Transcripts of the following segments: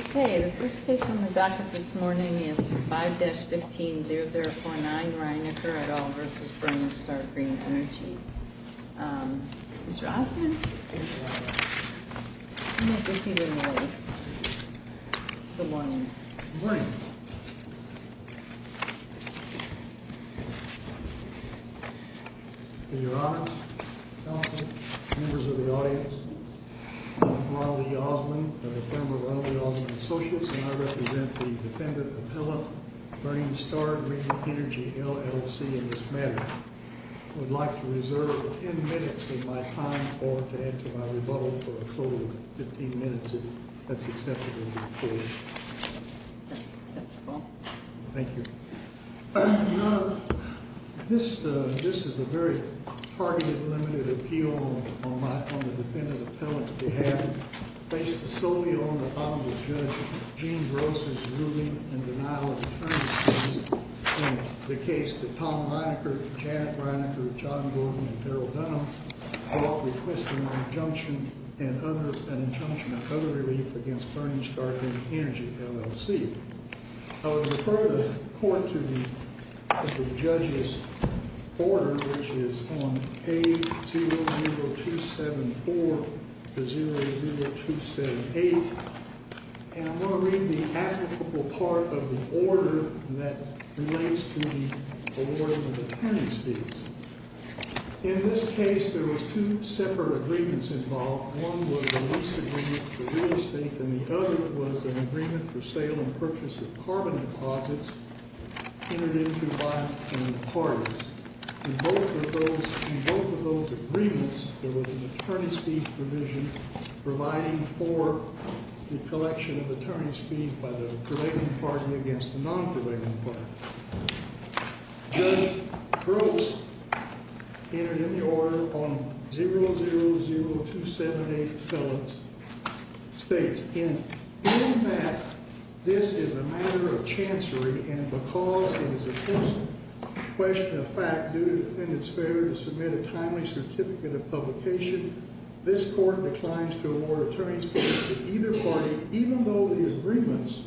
Okay, the first case on the docket this morning is 5-15-0049, Rheinecker et al. v. Burning Star Green Energy. Um, Mr. Osmond? Good morning. I'm going to proceed with an audit. Good morning. Good morning. In your honor, counsel, members of the audience, I'm Ronald E. Osmond of the firm of Ronald E. Osmond and Associates, and I represent the defendant appellant, Burning Star Green Energy, LLC, in this matter. I would like to reserve 10 minutes of my time to add to my rebuttal for a total of 15 minutes if that's acceptable to the court. That's acceptable. Thank you. Um, this is a very targeted, limited appeal on the defendant appellant's behalf. And based solely on the comment of Judge Gene Gross' ruling in denial of attorneyship in the case that Tom Rheinecker, Janet Rheinecker, John Gordon, and Harold Dunham brought requesting an injunction and other relief against Burning Star Green Energy, LLC. I would refer the court to the judge's order, which is on page 00274 to 00278. And I'm going to read the applicable part of the order that relates to the award of the defendant's fees. In this case, there was two separate agreements involved. One was a lease agreement for real estate, and the other was an agreement for sale and purchase of carbon deposits entered into by the parties. In both of those agreements, there was an attorney's fee provision providing for the collection of attorney's fees by the delaying party against the non-delaying party. Judge Gross entered in the order on 000278 appellant's states. In fact, this is a matter of chancery, and because it is a personal question of fact, due to the defendant's failure to submit a timely certificate of publication, this court declines to award attorney's fees to either party, even though the agreements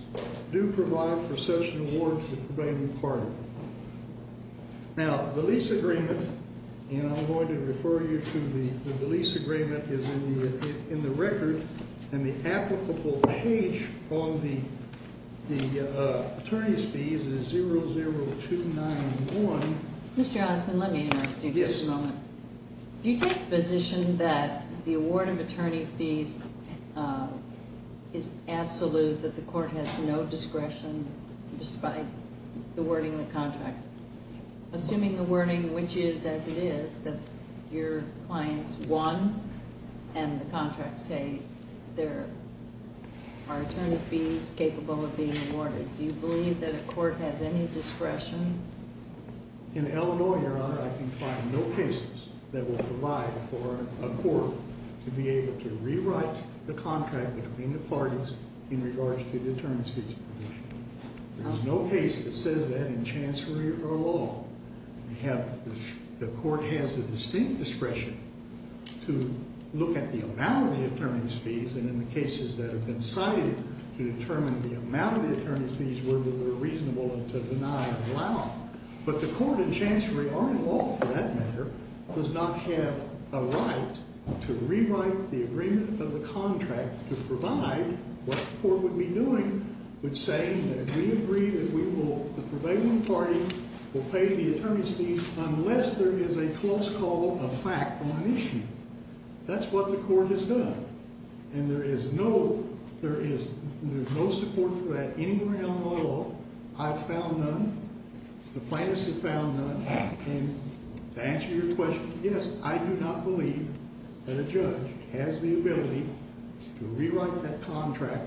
do provide for such an award to the prevailing party. Now, the lease agreement, and I'm going to refer you to the lease agreement, is in the record, and the applicable page on the attorney's fees is 00291. Mr. Osmond, let me interrupt you for just a moment. Yes. Do you take the position that the award of attorney fees is absolute, that the court has no discretion despite the wording of the contract? Assuming the wording, which is as it is, that your clients won, and the contracts say there are attorney fees capable of being awarded, do you believe that a court has any discretion? In Illinois, Your Honor, I can find no cases that will provide for a court to be able to rewrite the contract between the parties in regards to the attorney's fees. There is no case that says that in chancery or law. The court has the distinct discretion to look at the amount of the attorney's fees, and in the cases that have been cited, to determine the amount of the attorney's fees, whether they're reasonable to deny or allow. But the court in chancery or in law, for that matter, does not have a right to rewrite the agreement of the contract to provide what the court would be doing, which is saying that we agree that the prevailing party will pay the attorney's fees unless there is a close call of fact on an issue. That's what the court has done. And there is no support for that anywhere in Illinois law. I've found none. The plaintiffs have found none. And to answer your question, yes, I do not believe that a judge has the ability to rewrite that contract,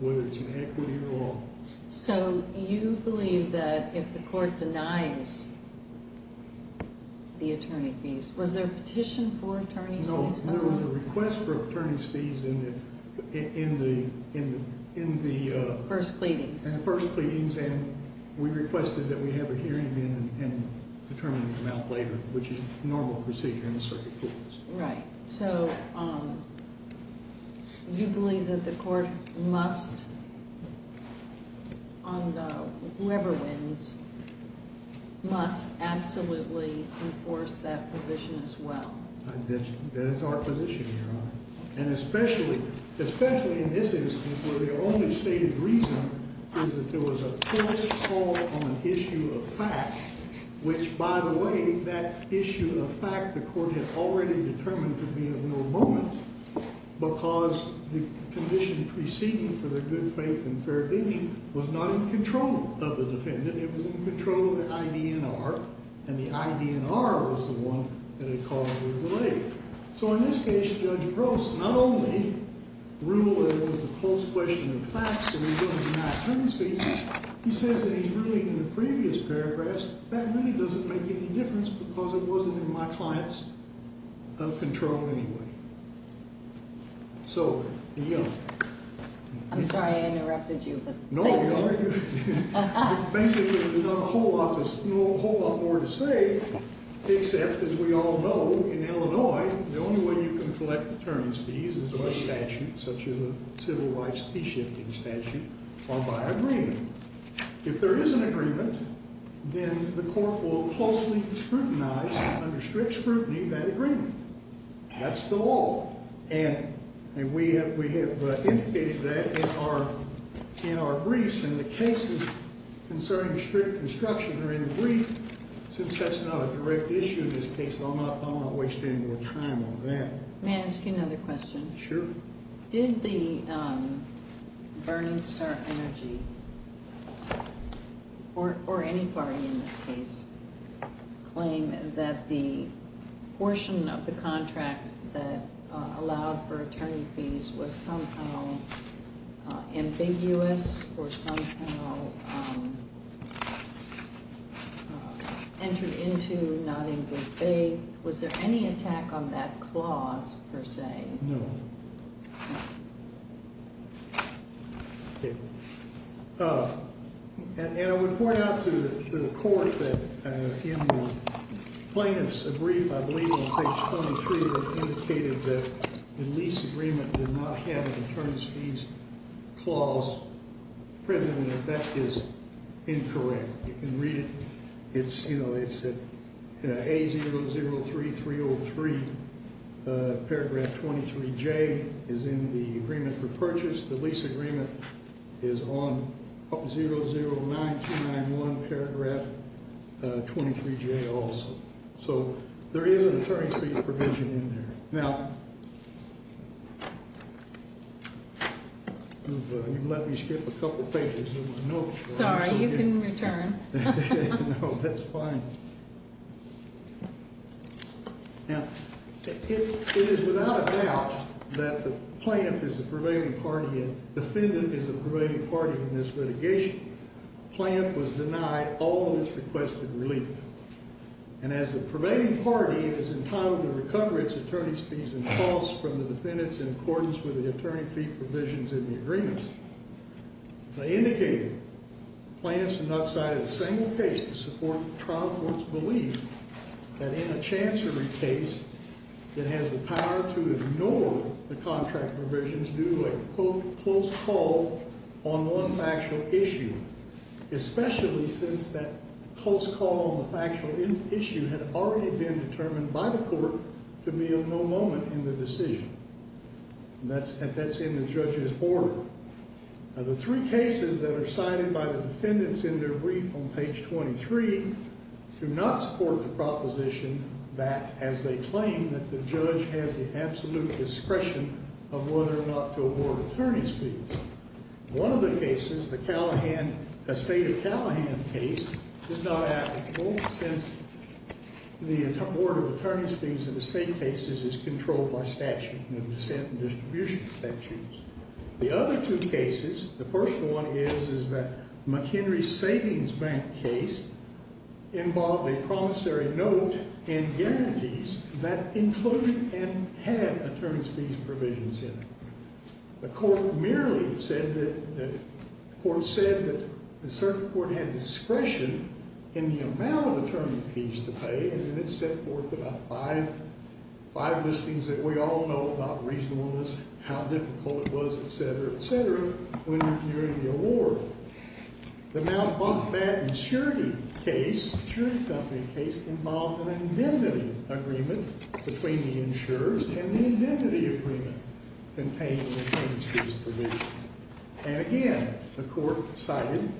whether it's in equity or law. So you believe that if the court denies the attorney fees, was there a petition for attorney's fees? No, there was a request for attorney's fees in the first pleadings. And we requested that we have a hearing again and determine the amount later, which is a normal procedure in the circuit courts. Right. So you believe that the court must, on the whoever wins, must absolutely enforce that provision as well? That is our position, Your Honor. And especially in this instance where the only stated reason is that there was a close call on an issue of fact, which, by the way, that issue of fact the court had already determined to be of no moment because the condition preceding for the good faith and fair digging was not in control of the defendant. It was in control of the IDNR, and the IDNR was the one that had caused the delay. So in this case, Judge Gross not only ruled that it was a close question of facts and he's going to deny attorney's fees, he says that he's ruling in the previous paragraphs that really doesn't make any difference because it wasn't in my client's control anyway. So, yeah. I'm sorry I interrupted you. No, Your Honor. Basically, there's not a whole lot more to say except, as we all know, in Illinois, the only way you can collect attorney's fees is by statute such as a civil rights fee-shifting statute or by agreement. If there is an agreement, then the court will closely scrutinize under strict scrutiny that agreement. That's the law. And we have indicated that in our briefs and the cases concerning strict construction are in the brief. Since that's not a direct issue in this case, I'm not wasting your time on that. May I ask you another question? Sure. Did the Burning Star Energy, or any party in this case, claim that the portion of the contract that allowed for attorney fees was somehow ambiguous or somehow entered into not in good faith? Was there any attack on that clause, per se? No. And I would point out to the court that in the plaintiff's brief, I believe on page 23, it indicated that the lease agreement did not have an attorney's fees clause present, and that is incorrect. You can read it. It's at A003303, paragraph 23J, is in the agreement for purchase. The lease agreement is on 009291, paragraph 23J also. So there is an attorney's fees provision in there. Now, you've let me skip a couple pages of my notes. Sorry, you can return. No, that's fine. Now, it is without a doubt that the plaintiff is a prevailing party and the defendant is a prevailing party in this litigation. The plaintiff was denied all of its requested relief. And as the prevailing party, it is entitled to recover its attorney's fees and costs from the defendants in accordance with the attorney fee provisions in the agreement. As I indicated, the plaintiff has not cited a single case to support the trial court's belief that in a chancery case, it has the power to ignore the contract provisions due to a, quote, close call on one factual issue, especially since that close call on the factual issue had already been determined by the court to be of no moment in the decision. And that's in the judge's order. Now, the three cases that are cited by the defendants in their brief on page 23 do not support the proposition that, as they claim, that the judge has the absolute discretion of whether or not to award attorney's fees. One of the cases, the state of Callahan case, is not applicable since the Board of Attorney's Fees in the state cases is controlled by statute, the dissent and distribution statutes. The other two cases, the first one is, is that McHenry Savings Bank case involved a promissory note and guarantees that included and had attorney's fees provisions in it. The court merely said that, the court said that a certain court had discretion in the amount of attorney's fees to pay, and then it set forth about five, five listings that we all know about reasonableness, how difficult it was, et cetera, et cetera, when reviewing the award. The Mountbatten Security case, security company case, involved an indemnity agreement between the insurers and the indemnity agreement contained an attorney's fees provision. And again, the court cited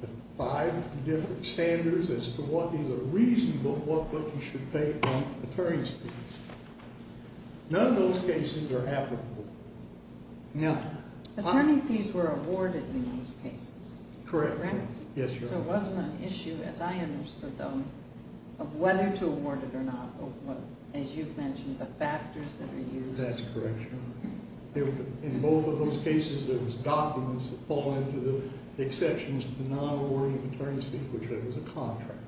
the five different standards as to what is a reasonable, what you should pay on attorney's fees. None of those cases are applicable. Now... Attorney fees were awarded in those cases. Correct. Correct? Yes, Your Honor. But there wasn't an issue, as I understood, though, of whether to award it or not. As you've mentioned, the factors that are used. That's correct, Your Honor. In both of those cases, there was documents that fall into the exceptions to non-awarding attorney's fees, which that was a contract,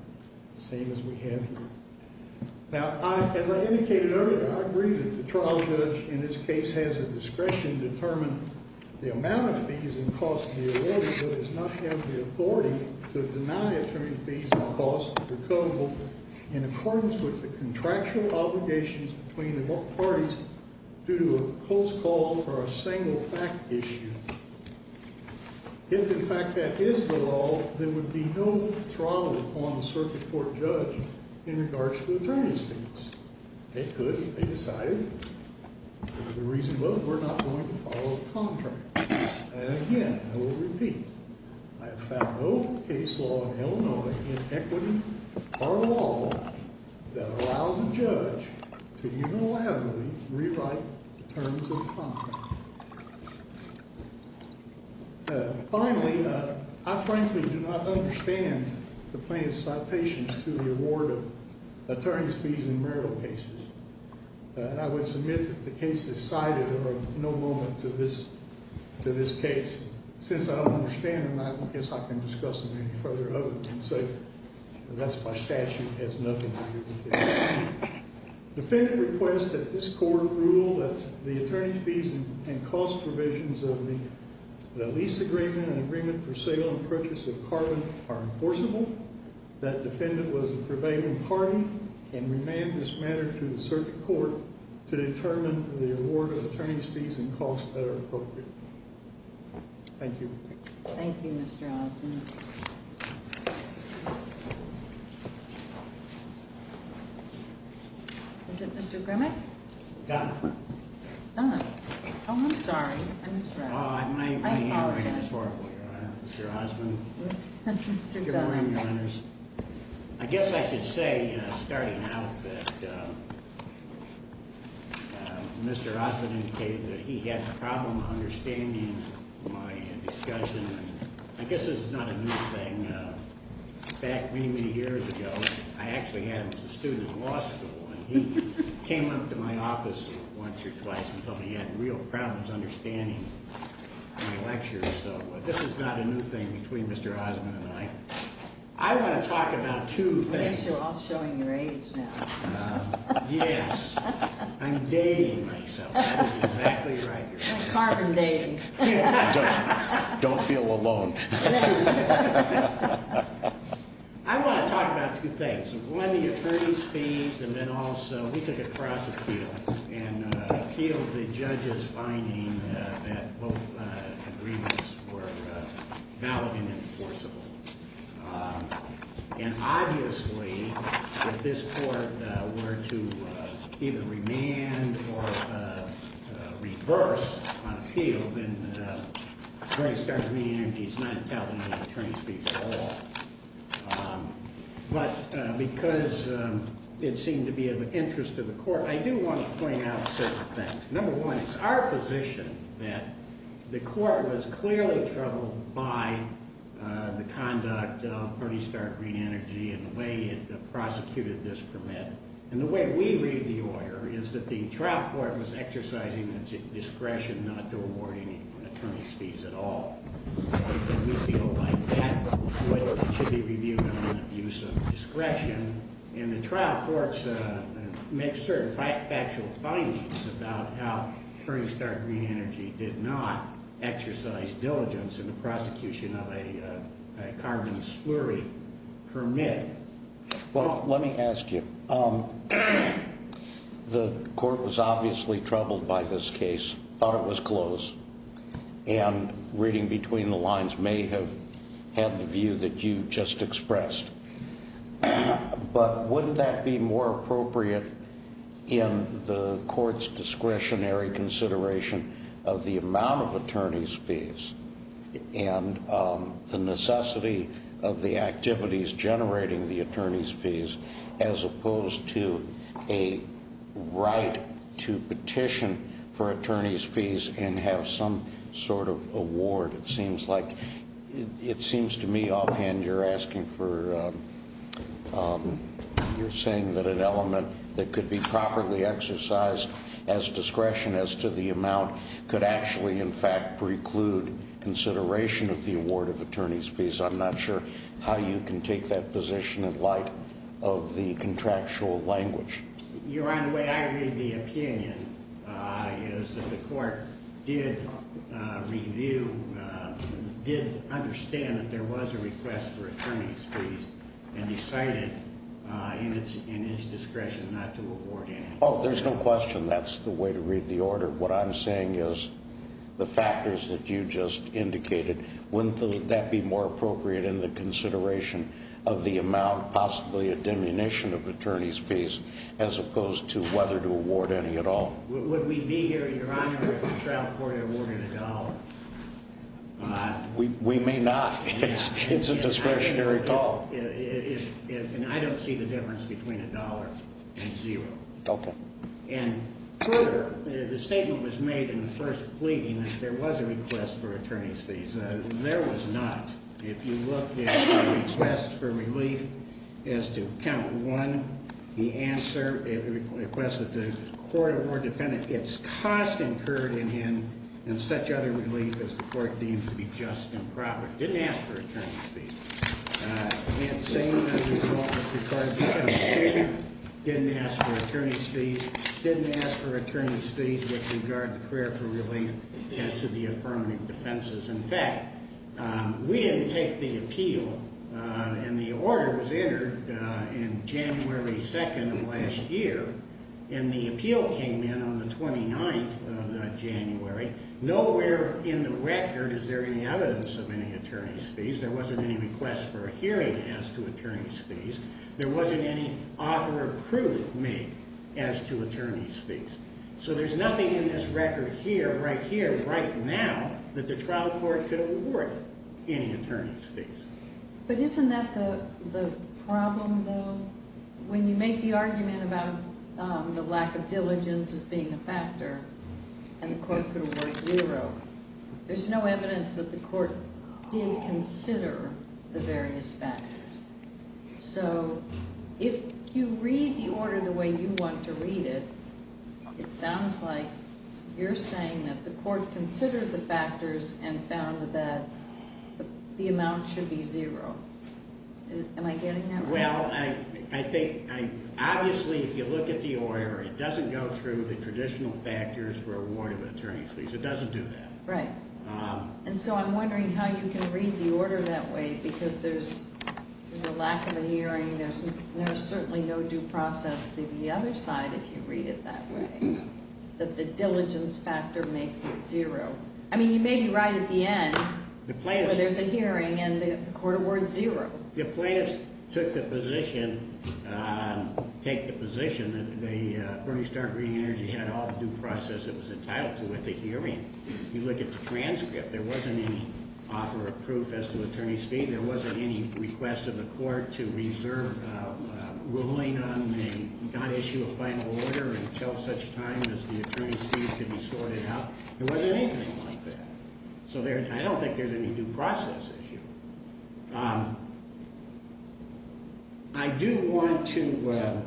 the same as we have here. Now, as I indicated earlier, I agree that the trial judge in this case has a discretion to determine the amount of fees and costs to be awarded, but does not have the authority to deny attorney's fees or costs of recusal in accordance with the contractual obligations between the parties due to a close call for a single fact issue. If, in fact, that is the law, there would be no throttle upon the circuit court judge in regards to attorney's fees. They could. They decided. The reason both were not going to follow the contract. And, again, I will repeat, I have found no case law in Illinois in equity or law that allows a judge to even allowed to rewrite terms of contract. Finally, I frankly do not understand the plaintiff's citations to the award of attorney's fees in marital cases. And I would submit that the cases cited are of no moment to this case. Since I don't understand them, I guess I can discuss them any further other than say that's my statute. It has nothing to do with it. Defendant requests that this court rule that the attorney's fees and cost provisions of the lease agreement and agreement for sale and purchase of carbon are enforceable. That defendant was a prevailing party and remanded this matter to the circuit court to determine the award of attorney's fees and costs that are appropriate. Thank you. Thank you, Mr. Osmond. Is it Mr. Grimmick? Dunn. Dunn. Oh, I'm sorry. I misread. I apologize. That's horrible, Your Honor. Mr. Osmond. Mr. Dunn. Good morning, Your Honors. I guess I should say, starting out, that Mr. Osmond indicated that he had a problem understanding my discussion. I guess this is not a new thing. Back many, many years ago, I actually had him as a student in law school. And he came up to my office once or twice and told me he had real problems understanding my lectures. So this is not a new thing between Mr. Osmond and I. I want to talk about two things. I guess you're all showing your age now. Yes. I'm dating myself. That is exactly right, Your Honor. Carbon dating. Don't feel alone. I want to talk about two things. One, the attorney's fees, and then also we took a cross appeal and appealed the judge's finding that both agreements were valid and enforceable. And obviously, if this court were to either remand or reverse on a field, then the Attorney's Department of Human Energy is not entitled to attorney's fees at all. But because it seemed to be of interest to the court, I do want to point out certain things. Number one, it's our position that the court was clearly troubled by the conduct of Party Star Green Energy and the way it prosecuted this permit. And the way we read the order is that the trial court was exercising its discretion not to award any attorney's fees at all. We feel like that should be reviewed under the use of discretion. And the trial courts make certain factual findings about how Party Star Green Energy did not exercise diligence in the prosecution of a carbon slurry permit. Well, let me ask you. The court was obviously troubled by this case, thought it was closed. And reading between the lines may have had the view that you just expressed. But wouldn't that be more appropriate in the court's discretionary consideration of the amount of attorney's fees? And the necessity of the activities generating the attorney's fees as opposed to a right to petition for attorney's fees and have some sort of award. It seems to me, offhand, you're saying that an element that could be properly exercised as discretion as to the amount could actually, in fact, preclude consideration of the award of attorney's fees. I'm not sure how you can take that position in light of the contractual language. Your Honor, the way I read the opinion is that the court did review, did understand that there was a request for attorney's fees and decided in its discretion not to award any. Oh, there's no question that's the way to read the order. What I'm saying is the factors that you just indicated, wouldn't that be more appropriate in the consideration of the amount, possibly a diminution of attorney's fees as opposed to whether to award any at all? Would we be here, Your Honor, if the trial court awarded a dollar? We may not. It's a discretionary call. And I don't see the difference between a dollar and zero. Okay. And further, the statement was made in the first pleading that there was a request for attorney's fees. There was not. If you look at the request for relief as to count one, the answer, it requested the court award defendant its cost incurred in him in such other relief as the court deemed to be just and proper. It didn't ask for attorney's fees. It seemed as a result that it didn't ask for attorney's fees. It didn't ask for attorney's fees with regard to prayer for relief as to the affirmative defenses. In fact, we didn't take the appeal, and the order was entered in January 2nd of last year, and the appeal came in on the 29th of January. Nowhere in the record is there any evidence of any attorney's fees. There wasn't any request for a hearing as to attorney's fees. There wasn't any offer of proof made as to attorney's fees. So there's nothing in this record here, right here, right now, that the trial court could award any attorney's fees. But isn't that the problem, though? When you make the argument about the lack of diligence as being a factor, and the court could award zero, there's no evidence that the court did consider the various factors. So if you read the order the way you want to read it, it sounds like you're saying that the court considered the factors and found that the amount should be zero. Well, I think, obviously, if you look at the order, it doesn't go through the traditional factors for award of attorney's fees. It doesn't do that. Right. And so I'm wondering how you can read the order that way, because there's a lack of a hearing. There's certainly no due process to the other side if you read it that way, that the diligence factor makes it zero. I mean, you may be right at the end where there's a hearing, and the court awards zero. If plaintiffs took the position, take the position that the Bernie Stark Green Energy had all the due process it was entitled to at the hearing, you look at the transcript, there wasn't any offer of proof as to attorney's fee. There wasn't any request of the court to reserve a ruling on the non-issue of final order until such time as the attorney's fees could be sorted out. There wasn't anything like that. So I don't think there's any due process issue. I do want to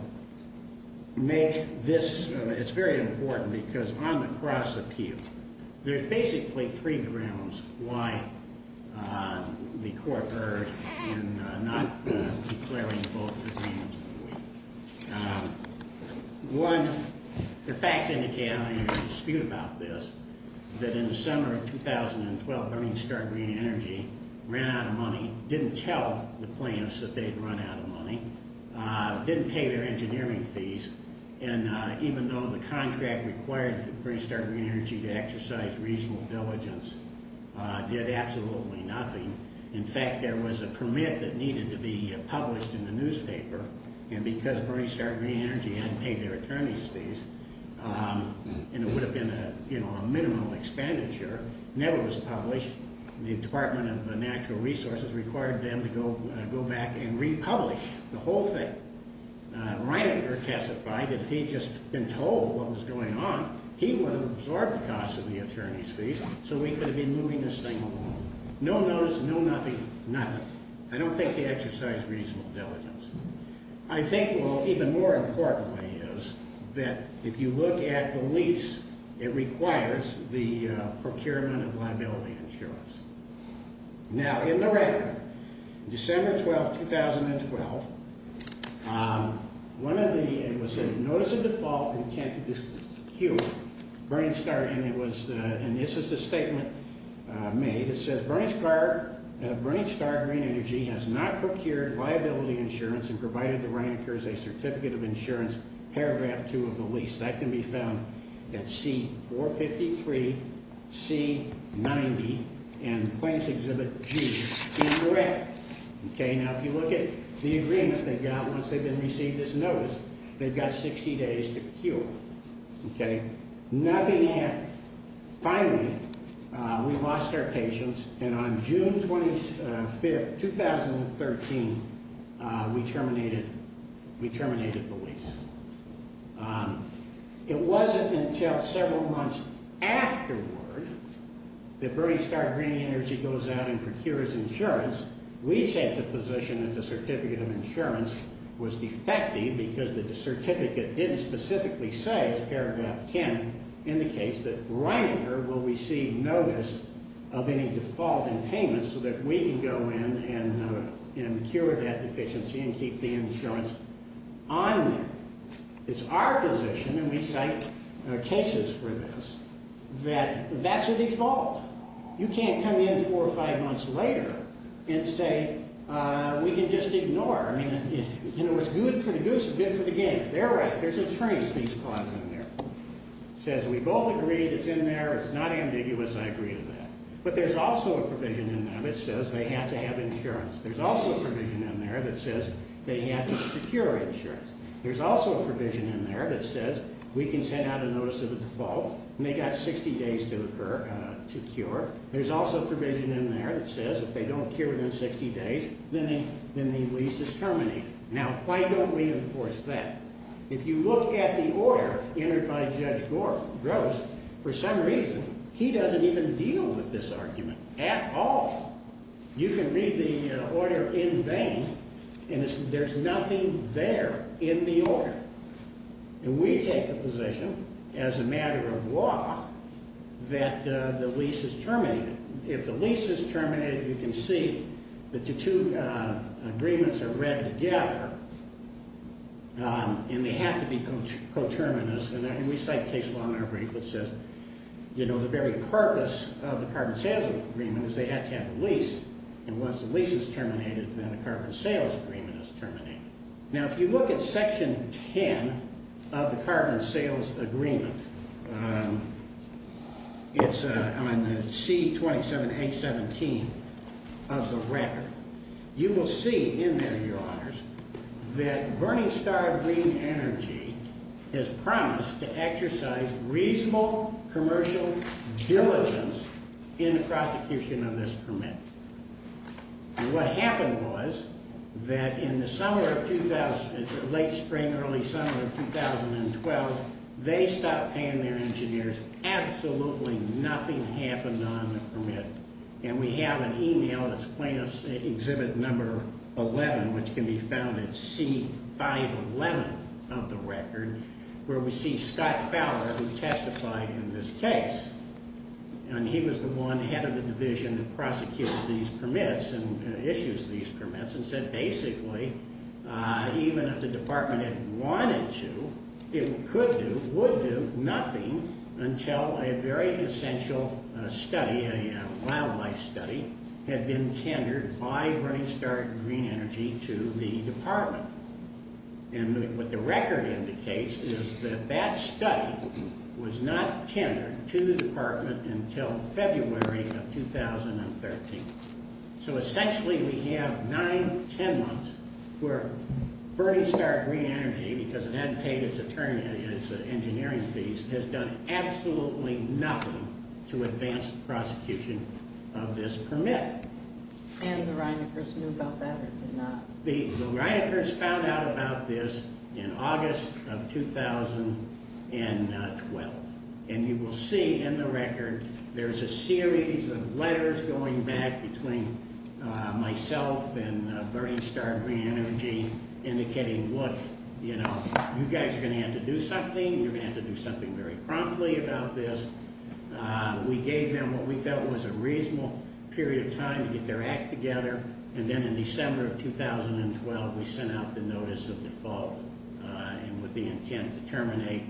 make this. It's very important because on the cross-appeal, there's basically three grounds why the court erred in not declaring both agreements. One, the facts indicate, and there's no dispute about this, that in the summer of 2012, Bernie Stark Green Energy ran out of money, didn't tell the plaintiffs that they'd run out of money, didn't pay their engineering fees, and even though the contract required Bernie Stark Green Energy to exercise reasonable diligence, did absolutely nothing. In fact, there was a permit that needed to be published in the newspaper, and because Bernie Stark Green Energy hadn't paid their attorney's fees, and it would have been a minimal expenditure, never was published, the Department of Natural Resources required them to go back and republish the whole thing. Reinecker testified that if he'd just been told what was going on, he would have absorbed the costs of the attorney's fees, so he could have been moving this thing along. No notice, no nothing, nothing. I don't think they exercised reasonable diligence. I think, well, even more importantly is that if you look at the lease, it requires the procurement of liability insurance. Now, in the record, December 12, 2012, it was a notice of default, and this is the statement made, it says, Bernie Stark Green Energy has not procured liability insurance and provided the Reineckers a certificate of insurance, paragraph 2 of the lease. That can be found at C-453, C-90, and claims exhibit G, incorrect. Okay, now if you look at the agreement they've got once they've been received this notice, they've got 60 days to cure, okay? Nothing happened. Finally, we lost our patience, and on June 25, 2013, we terminated the lease. It wasn't until several months afterward that Bernie Stark Green Energy goes out and procures insurance. We take the position that the certificate of insurance was defective because the certificate didn't specifically say, as paragraph 10 indicates, that Reinecker will receive notice of any default in payments so that we can go in and cure that deficiency and keep the insurance on there. It's our position, and we cite cases for this, that that's a default. You can't come in four or five months later and say, we can just ignore. I mean, you know, it's good for the goose, it's good for the game. They're right. There's a trace of these clauses in there. It says we both agreed it's in there. It's not ambiguous. I agree with that. But there's also a provision in there that says they have to have insurance. There's also a provision in there that says they have to procure insurance. There's also a provision in there that says we can send out a notice of a default, and they've got 60 days to occur, to cure. There's also a provision in there that says if they don't cure within 60 days, then the lease is terminated. Now, why don't we enforce that? If you look at the order entered by Judge Gross, for some reason, he doesn't even deal with this argument at all. You can read the order in vain, and there's nothing there in the order. And we take a position, as a matter of law, that the lease is terminated. If the lease is terminated, you can see that the two agreements are read together, and they have to be coterminous. And we cite case law in our brief that says, you know, the very purpose of the carbon sales agreement is they have to have a lease. And once the lease is terminated, then the carbon sales agreement is terminated. Now, if you look at Section 10 of the carbon sales agreement, it's on the C27A17 of the record. You will see in there, Your Honors, that Burning Star Green Energy has promised to exercise reasonable commercial diligence in the prosecution of this permit. And what happened was that in the summer of 2000, late spring, early summer of 2012, they stopped paying their engineers. Absolutely nothing happened on the permit. And we have an email that's plaintiff's exhibit number 11, which can be found at C511 of the record, where we see Scott Fowler, who testified in this case. And he was the one head of the division that prosecutes these permits and issues these permits and said, basically, even if the department had wanted to, it could do, would do, nothing, until a very essential study, a wildlife study, had been tendered by Burning Star Green Energy to the department. And what the record indicates is that that study was not tendered to the department until February of 2013. So essentially, we have nine, ten months where Burning Star Green Energy, because it hadn't paid its attorney, its engineering fees, has done absolutely nothing to advance the prosecution of this permit. And the Reineckers knew about that or did not? The Reineckers found out about this in August of 2012. And you will see in the record, there's a series of letters going back between myself and Burning Star Green Energy indicating, look, you know, you guys are going to have to do something. You're going to have to do something very promptly about this. We gave them what we felt was a reasonable period of time to get their act together. And then in December of 2012, we sent out the notice of default. And with the intent to terminate,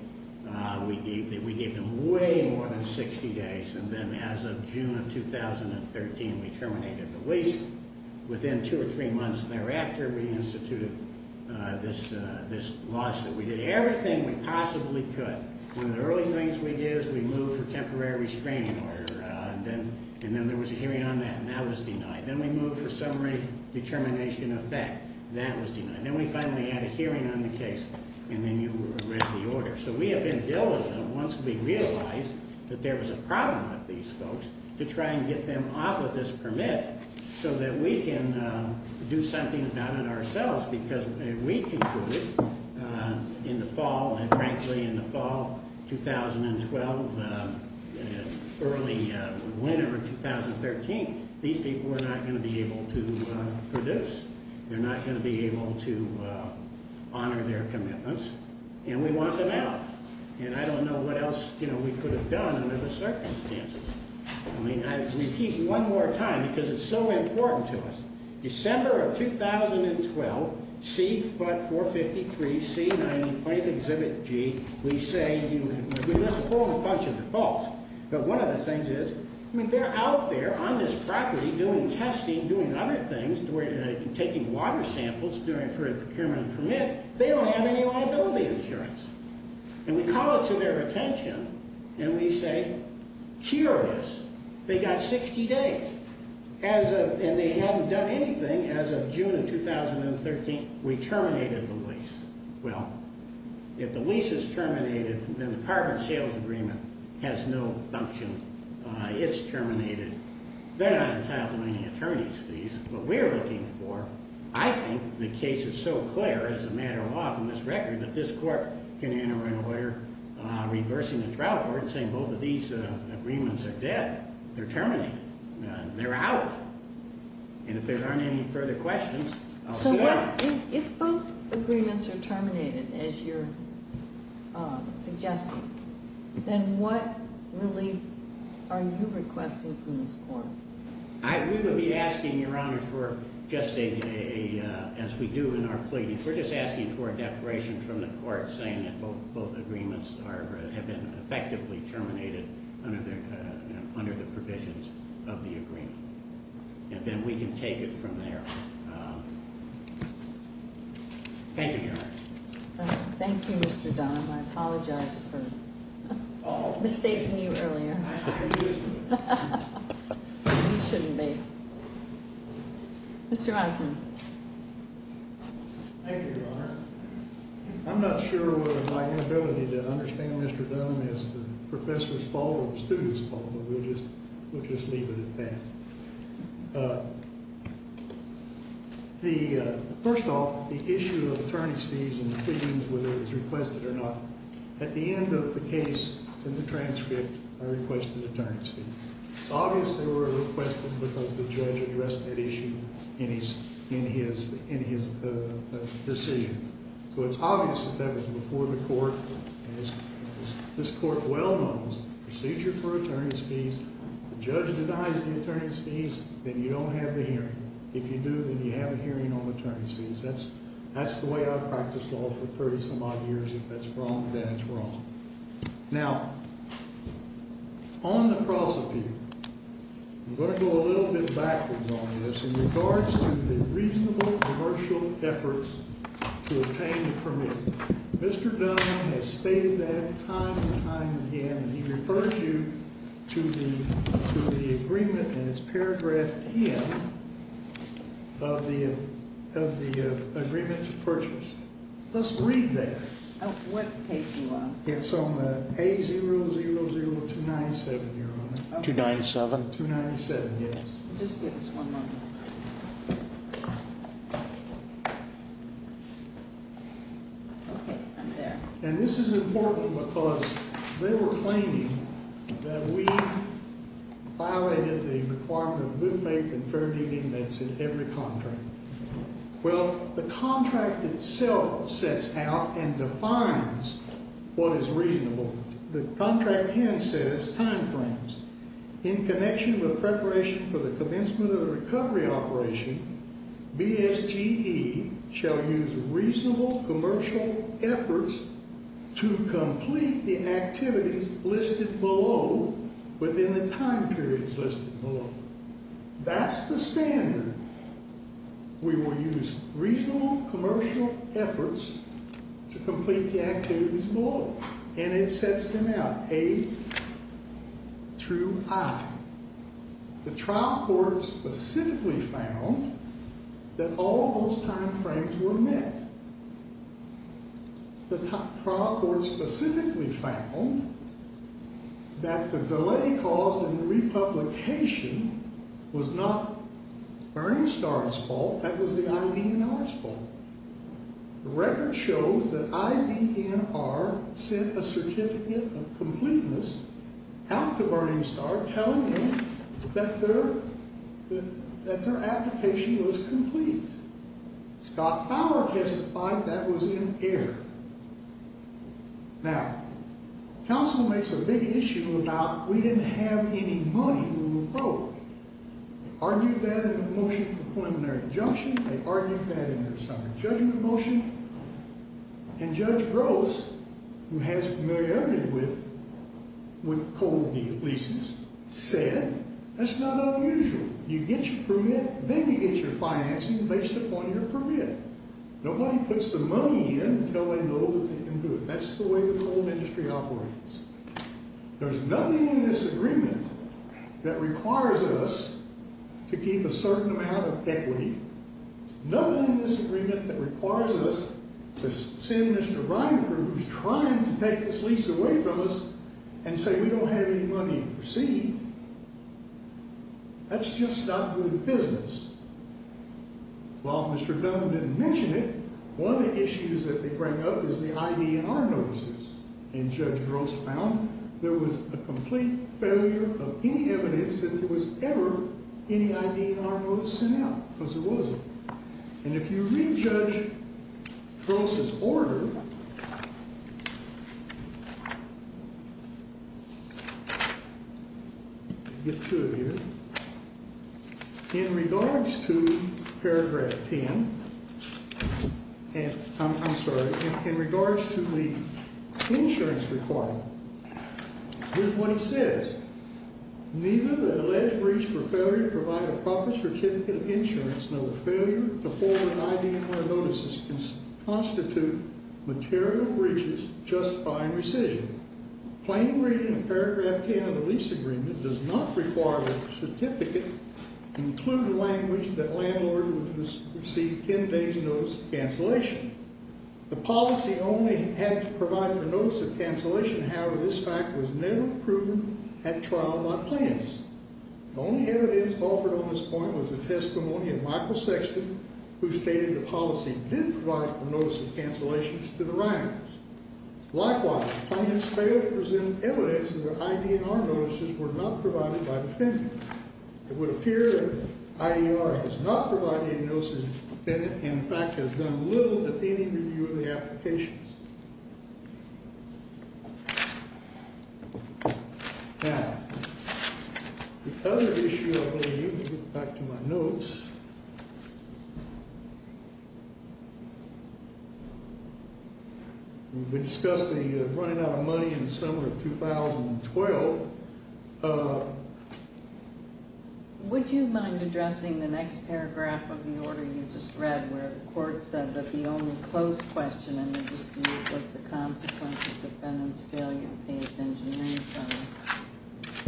we gave them way more than 60 days. And then as of June of 2013, we terminated the lease. Within two or three months thereafter, we instituted this lawsuit. We did everything we possibly could. One of the early things we did is we moved for temporary restraining order. And then there was a hearing on that, and that was denied. Then we moved for summary determination of fact. That was denied. Then we finally had a hearing on the case, and then you read the order. So we have been diligent once we realized that there was a problem with these folks to try and get them off of this permit so that we can do something about it ourselves. Because we concluded in the fall, and frankly in the fall 2012, early winter of 2013, these people were not going to be able to produce. They're not going to be able to honor their commitments. And we want them out. And I don't know what else, you know, we could have done under the circumstances. I mean, I repeat one more time because it's so important to us. December of 2012, C. foot 453, C. 1920th Exhibit G, we say, we list a whole bunch of defaults. But one of the things is, I mean, they're out there on this property doing testing, doing other things, taking water samples, doing for a procurement permit. They don't have any liability insurance. And we call it to their attention, and we say, curious. They got 60 days. And they haven't done anything as of June of 2013. We terminated the lease. Well, if the lease is terminated, then the carbon sales agreement has no function. It's terminated. They're not entitled to any attorney's fees. What we're looking for, I think the case is so clear as a matter of law from this record that this court can enter into order reversing the trial court and saying both of these agreements are dead. They're terminated. They're out. And if there aren't any further questions, I'll see you tomorrow. So if both agreements are terminated, as you're suggesting, then what relief are you requesting from this court? We would be asking, Your Honor, for just as we do in our pleadings. We're just asking for a declaration from the court saying that both agreements have been effectively terminated under the provisions of the agreement. And then we can take it from there. Thank you, Your Honor. Thank you, Mr. Dunham. I apologize for mistaking you earlier. You shouldn't be. Mr. Osmond. Thank you, Your Honor. I'm not sure whether my inability to understand Mr. Dunham is the professor's fault or the student's fault, but we'll just leave it at that. First off, the issue of attorney's fees in the pleadings, whether it was requested or not, at the end of the case, in the transcript, I requested attorney's fees. It's obvious they were requested because the judge addressed that issue in his decision. So it's obvious that that was before the court. As this court well knows, procedure for attorney's fees, the judge denies the attorney's fees, then you don't have the hearing. If you do, then you have a hearing on attorney's fees. That's the way I've practiced law for 30-some odd years. If that's wrong, then it's wrong. Now, on the cross-appeal, I'm going to go a little bit backwards on this in regards to the reasonable commercial efforts to obtain the permit. Mr. Dunham has stated that time and time again. He refers you to the agreement in his paragraph 10 of the agreement to purchase. Let's read that. What page are you on? It's on page 000297, Your Honor. 297? 297, yes. Just give us one moment. Okay, I'm there. And this is important because they were claiming that we violated the requirement of good faith and fair deeding that's in every contract. Well, the contract itself sets out and defines what is reasonable. The contract then says timeframes. In connection with preparation for the commencement of the recovery operation, BSGE shall use reasonable commercial efforts to complete the activities listed below within the time periods listed below. That's the standard. We will use reasonable commercial efforts to complete the activities below. And it sets them out, A through I. The trial court specifically found that all of those timeframes were met. The trial court specifically found that the delay caused in the republication was not Bernie Starr's fault. The record shows that IDNR sent a certificate of completeness out to Bernie Starr telling him that their application was complete. Scott Fowler testified that was in error. Now, counsel makes a big issue about we didn't have any money we were owed. They argued that in the motion for preliminary injunction. They argued that in their summary judgment motion. And Judge Gross, who has familiarity with coal leases, said that's not unusual. You get your permit, then you get your financing based upon your permit. Nobody puts the money in until they know that they can do it. That's the way the coal industry operates. There's nothing in this agreement that requires us to keep a certain amount of equity. There's nothing in this agreement that requires us to send Mr. Reineberg, who's trying to take this lease away from us, and say we don't have any money to proceed. That's just not good business. Well, Mr. Dunn didn't mention it. One of the issues that they bring up is the IDNR notices. And Judge Gross found there was a complete failure of any evidence that there was ever any IDNR notice sent out because there wasn't. And if you re-judge Gross's order, in regards to paragraph 10, I'm sorry, in regards to the insurance requirement, here's what he says. Neither the alleged breach for failure to provide a proper certificate of insurance nor the failure to forward IDNR notices constitute material breaches justifying rescission. Plain reading of paragraph 10 of the lease agreement does not require that the certificate include language that a landlord would receive 10 days' notice of cancellation. The policy only had to provide for notice of cancellation. However, this fact was never proven at trial by plaintiffs. The only evidence offered on this point was the testimony of Michael Sexton, who stated the policy did provide for notice of cancellation to the Reiners. Likewise, the plaintiffs failed to present evidence that their IDNR notices were not provided by the defendant. It would appear that IDNR has not provided any notices. The defendant, in fact, has done little to any review of the applications. Now, the other issue I believe, back to my notes, we discussed the running out of money in the summer of 2012. Would you mind addressing the next paragraph of the order you just read where the court said that the only close question in the dispute was the consequence of the defendant's failure to pay his engineering firm?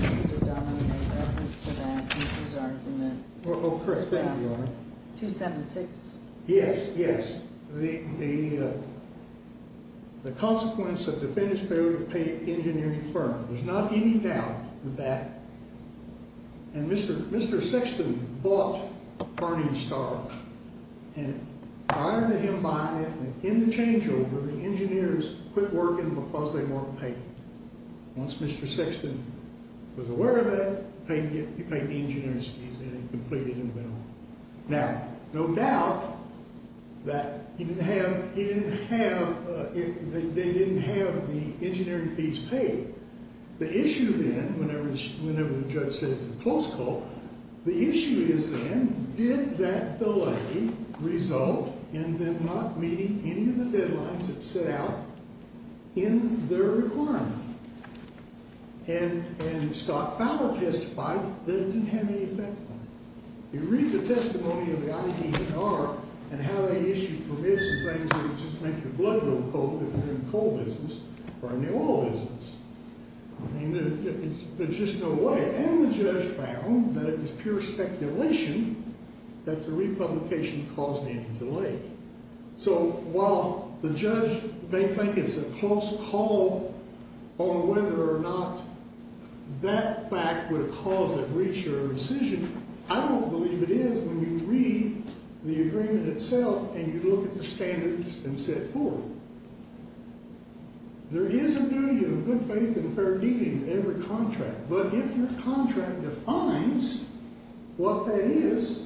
Mr. Donovan made reference to that in his argument. Oh, correct. Thank you, Your Honor. 276. Yes, yes. The consequence of the defendant's failure to pay an engineering firm. There's not any doubt of that. And Mr. Sexton bought Burning Star and hired him to buy it. And in the changeover, the engineers quit working because they weren't paid. Once Mr. Sexton was aware of it, he paid the engineering fees and it completed and went on. Now, no doubt that he didn't have, he didn't have, they didn't have the engineering fees paid. The issue then, whenever the judge says it's a close call, the issue is then did that delay result in them not meeting any of the deadlines that set out in their requirement? And Scott Fowler testified that it didn't have any effect on him. You read the testimony of the ID&R and how they issued permits and things that would just make your blood go cold if you're in the coal business or in the oil business. I mean, there's just no way. And the judge found that it was pure speculation that the republication caused any delay. So while the judge may think it's a close call on whether or not that fact would have caused a breach or a rescission, I don't believe it is when you read the agreement itself and you look at the standards and set forth. There is a duty of good faith and fair dealing in every contract, but if your contract defines what that is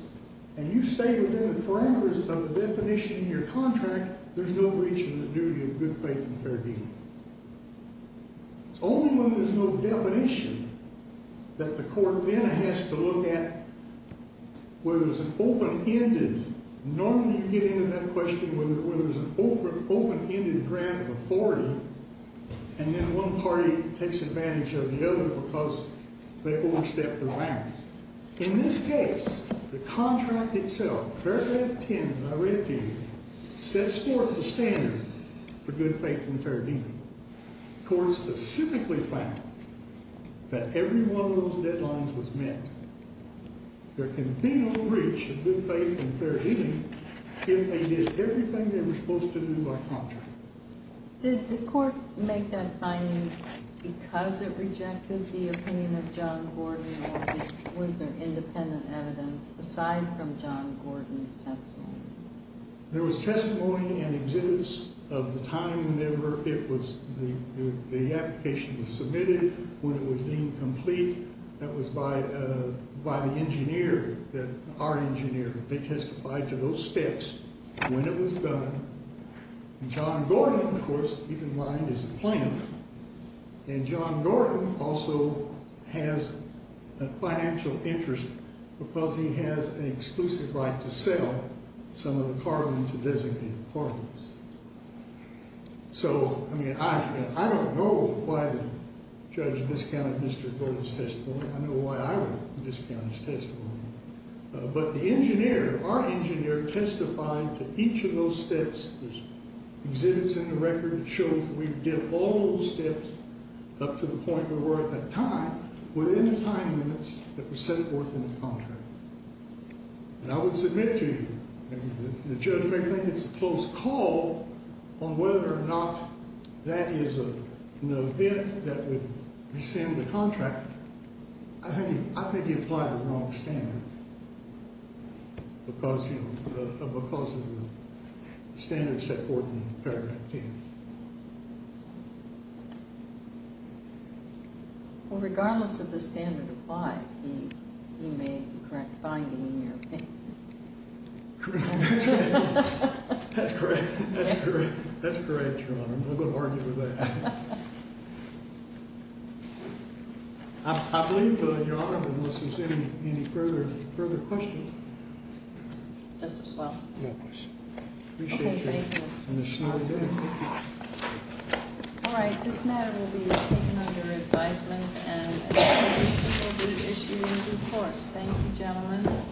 and you stay within the parameters of the definition in your contract, there's no breach of the duty of good faith and fair dealing. It's only when there's no definition that the court then has to look at whether it's an open-ended, normally you get into that question where there's an open-ended grant of authority and then one party takes advantage of the other because they overstepped their bounds. In this case, the contract itself, paragraph 10 of the red paper, sets forth the standard for good faith and fair dealing. The court specifically found that every one of those deadlines was met. There can be no breach of good faith and fair dealing if they did everything they were supposed to do by contract. Did the court make that finding because it rejected the opinion of John Gordon or was there independent evidence aside from John Gordon's testimony? There was testimony and exhibits of the time whenever the application was submitted, when it was deemed complete. That was by the engineer, the art engineer. They testified to those steps when it was done. John Gordon, of course, even lined as a plaintiff. And John Gordon also has a financial interest because he has an exclusive right to sell some of the carving to designated partners. So, I mean, I don't know why the judge discounted Mr. Gordon's testimony. I don't know why I would discount his testimony. But the engineer, the art engineer, testified to each of those steps. There's exhibits in the record that show that we did all those steps up to the point where we're at that time, within the time limits that were set forth in the contract. And I would submit to you, and the judge may think it's a close call on whether or not that is an event that would rescind the contract. I think he applied the wrong standard because of the standards set forth in paragraph 10. Well, regardless of the standard applied, he made the correct finding in your opinion. That's great. That's great, John. I'm not going to argue with that. I believe Your Honor, unless there's any further questions. That's as well. Yes. Okay, thank you. Appreciate you and the story there. Thank you. All right, this matter will be taken under advisement and the court will issue the reports. Thank you, gentlemen.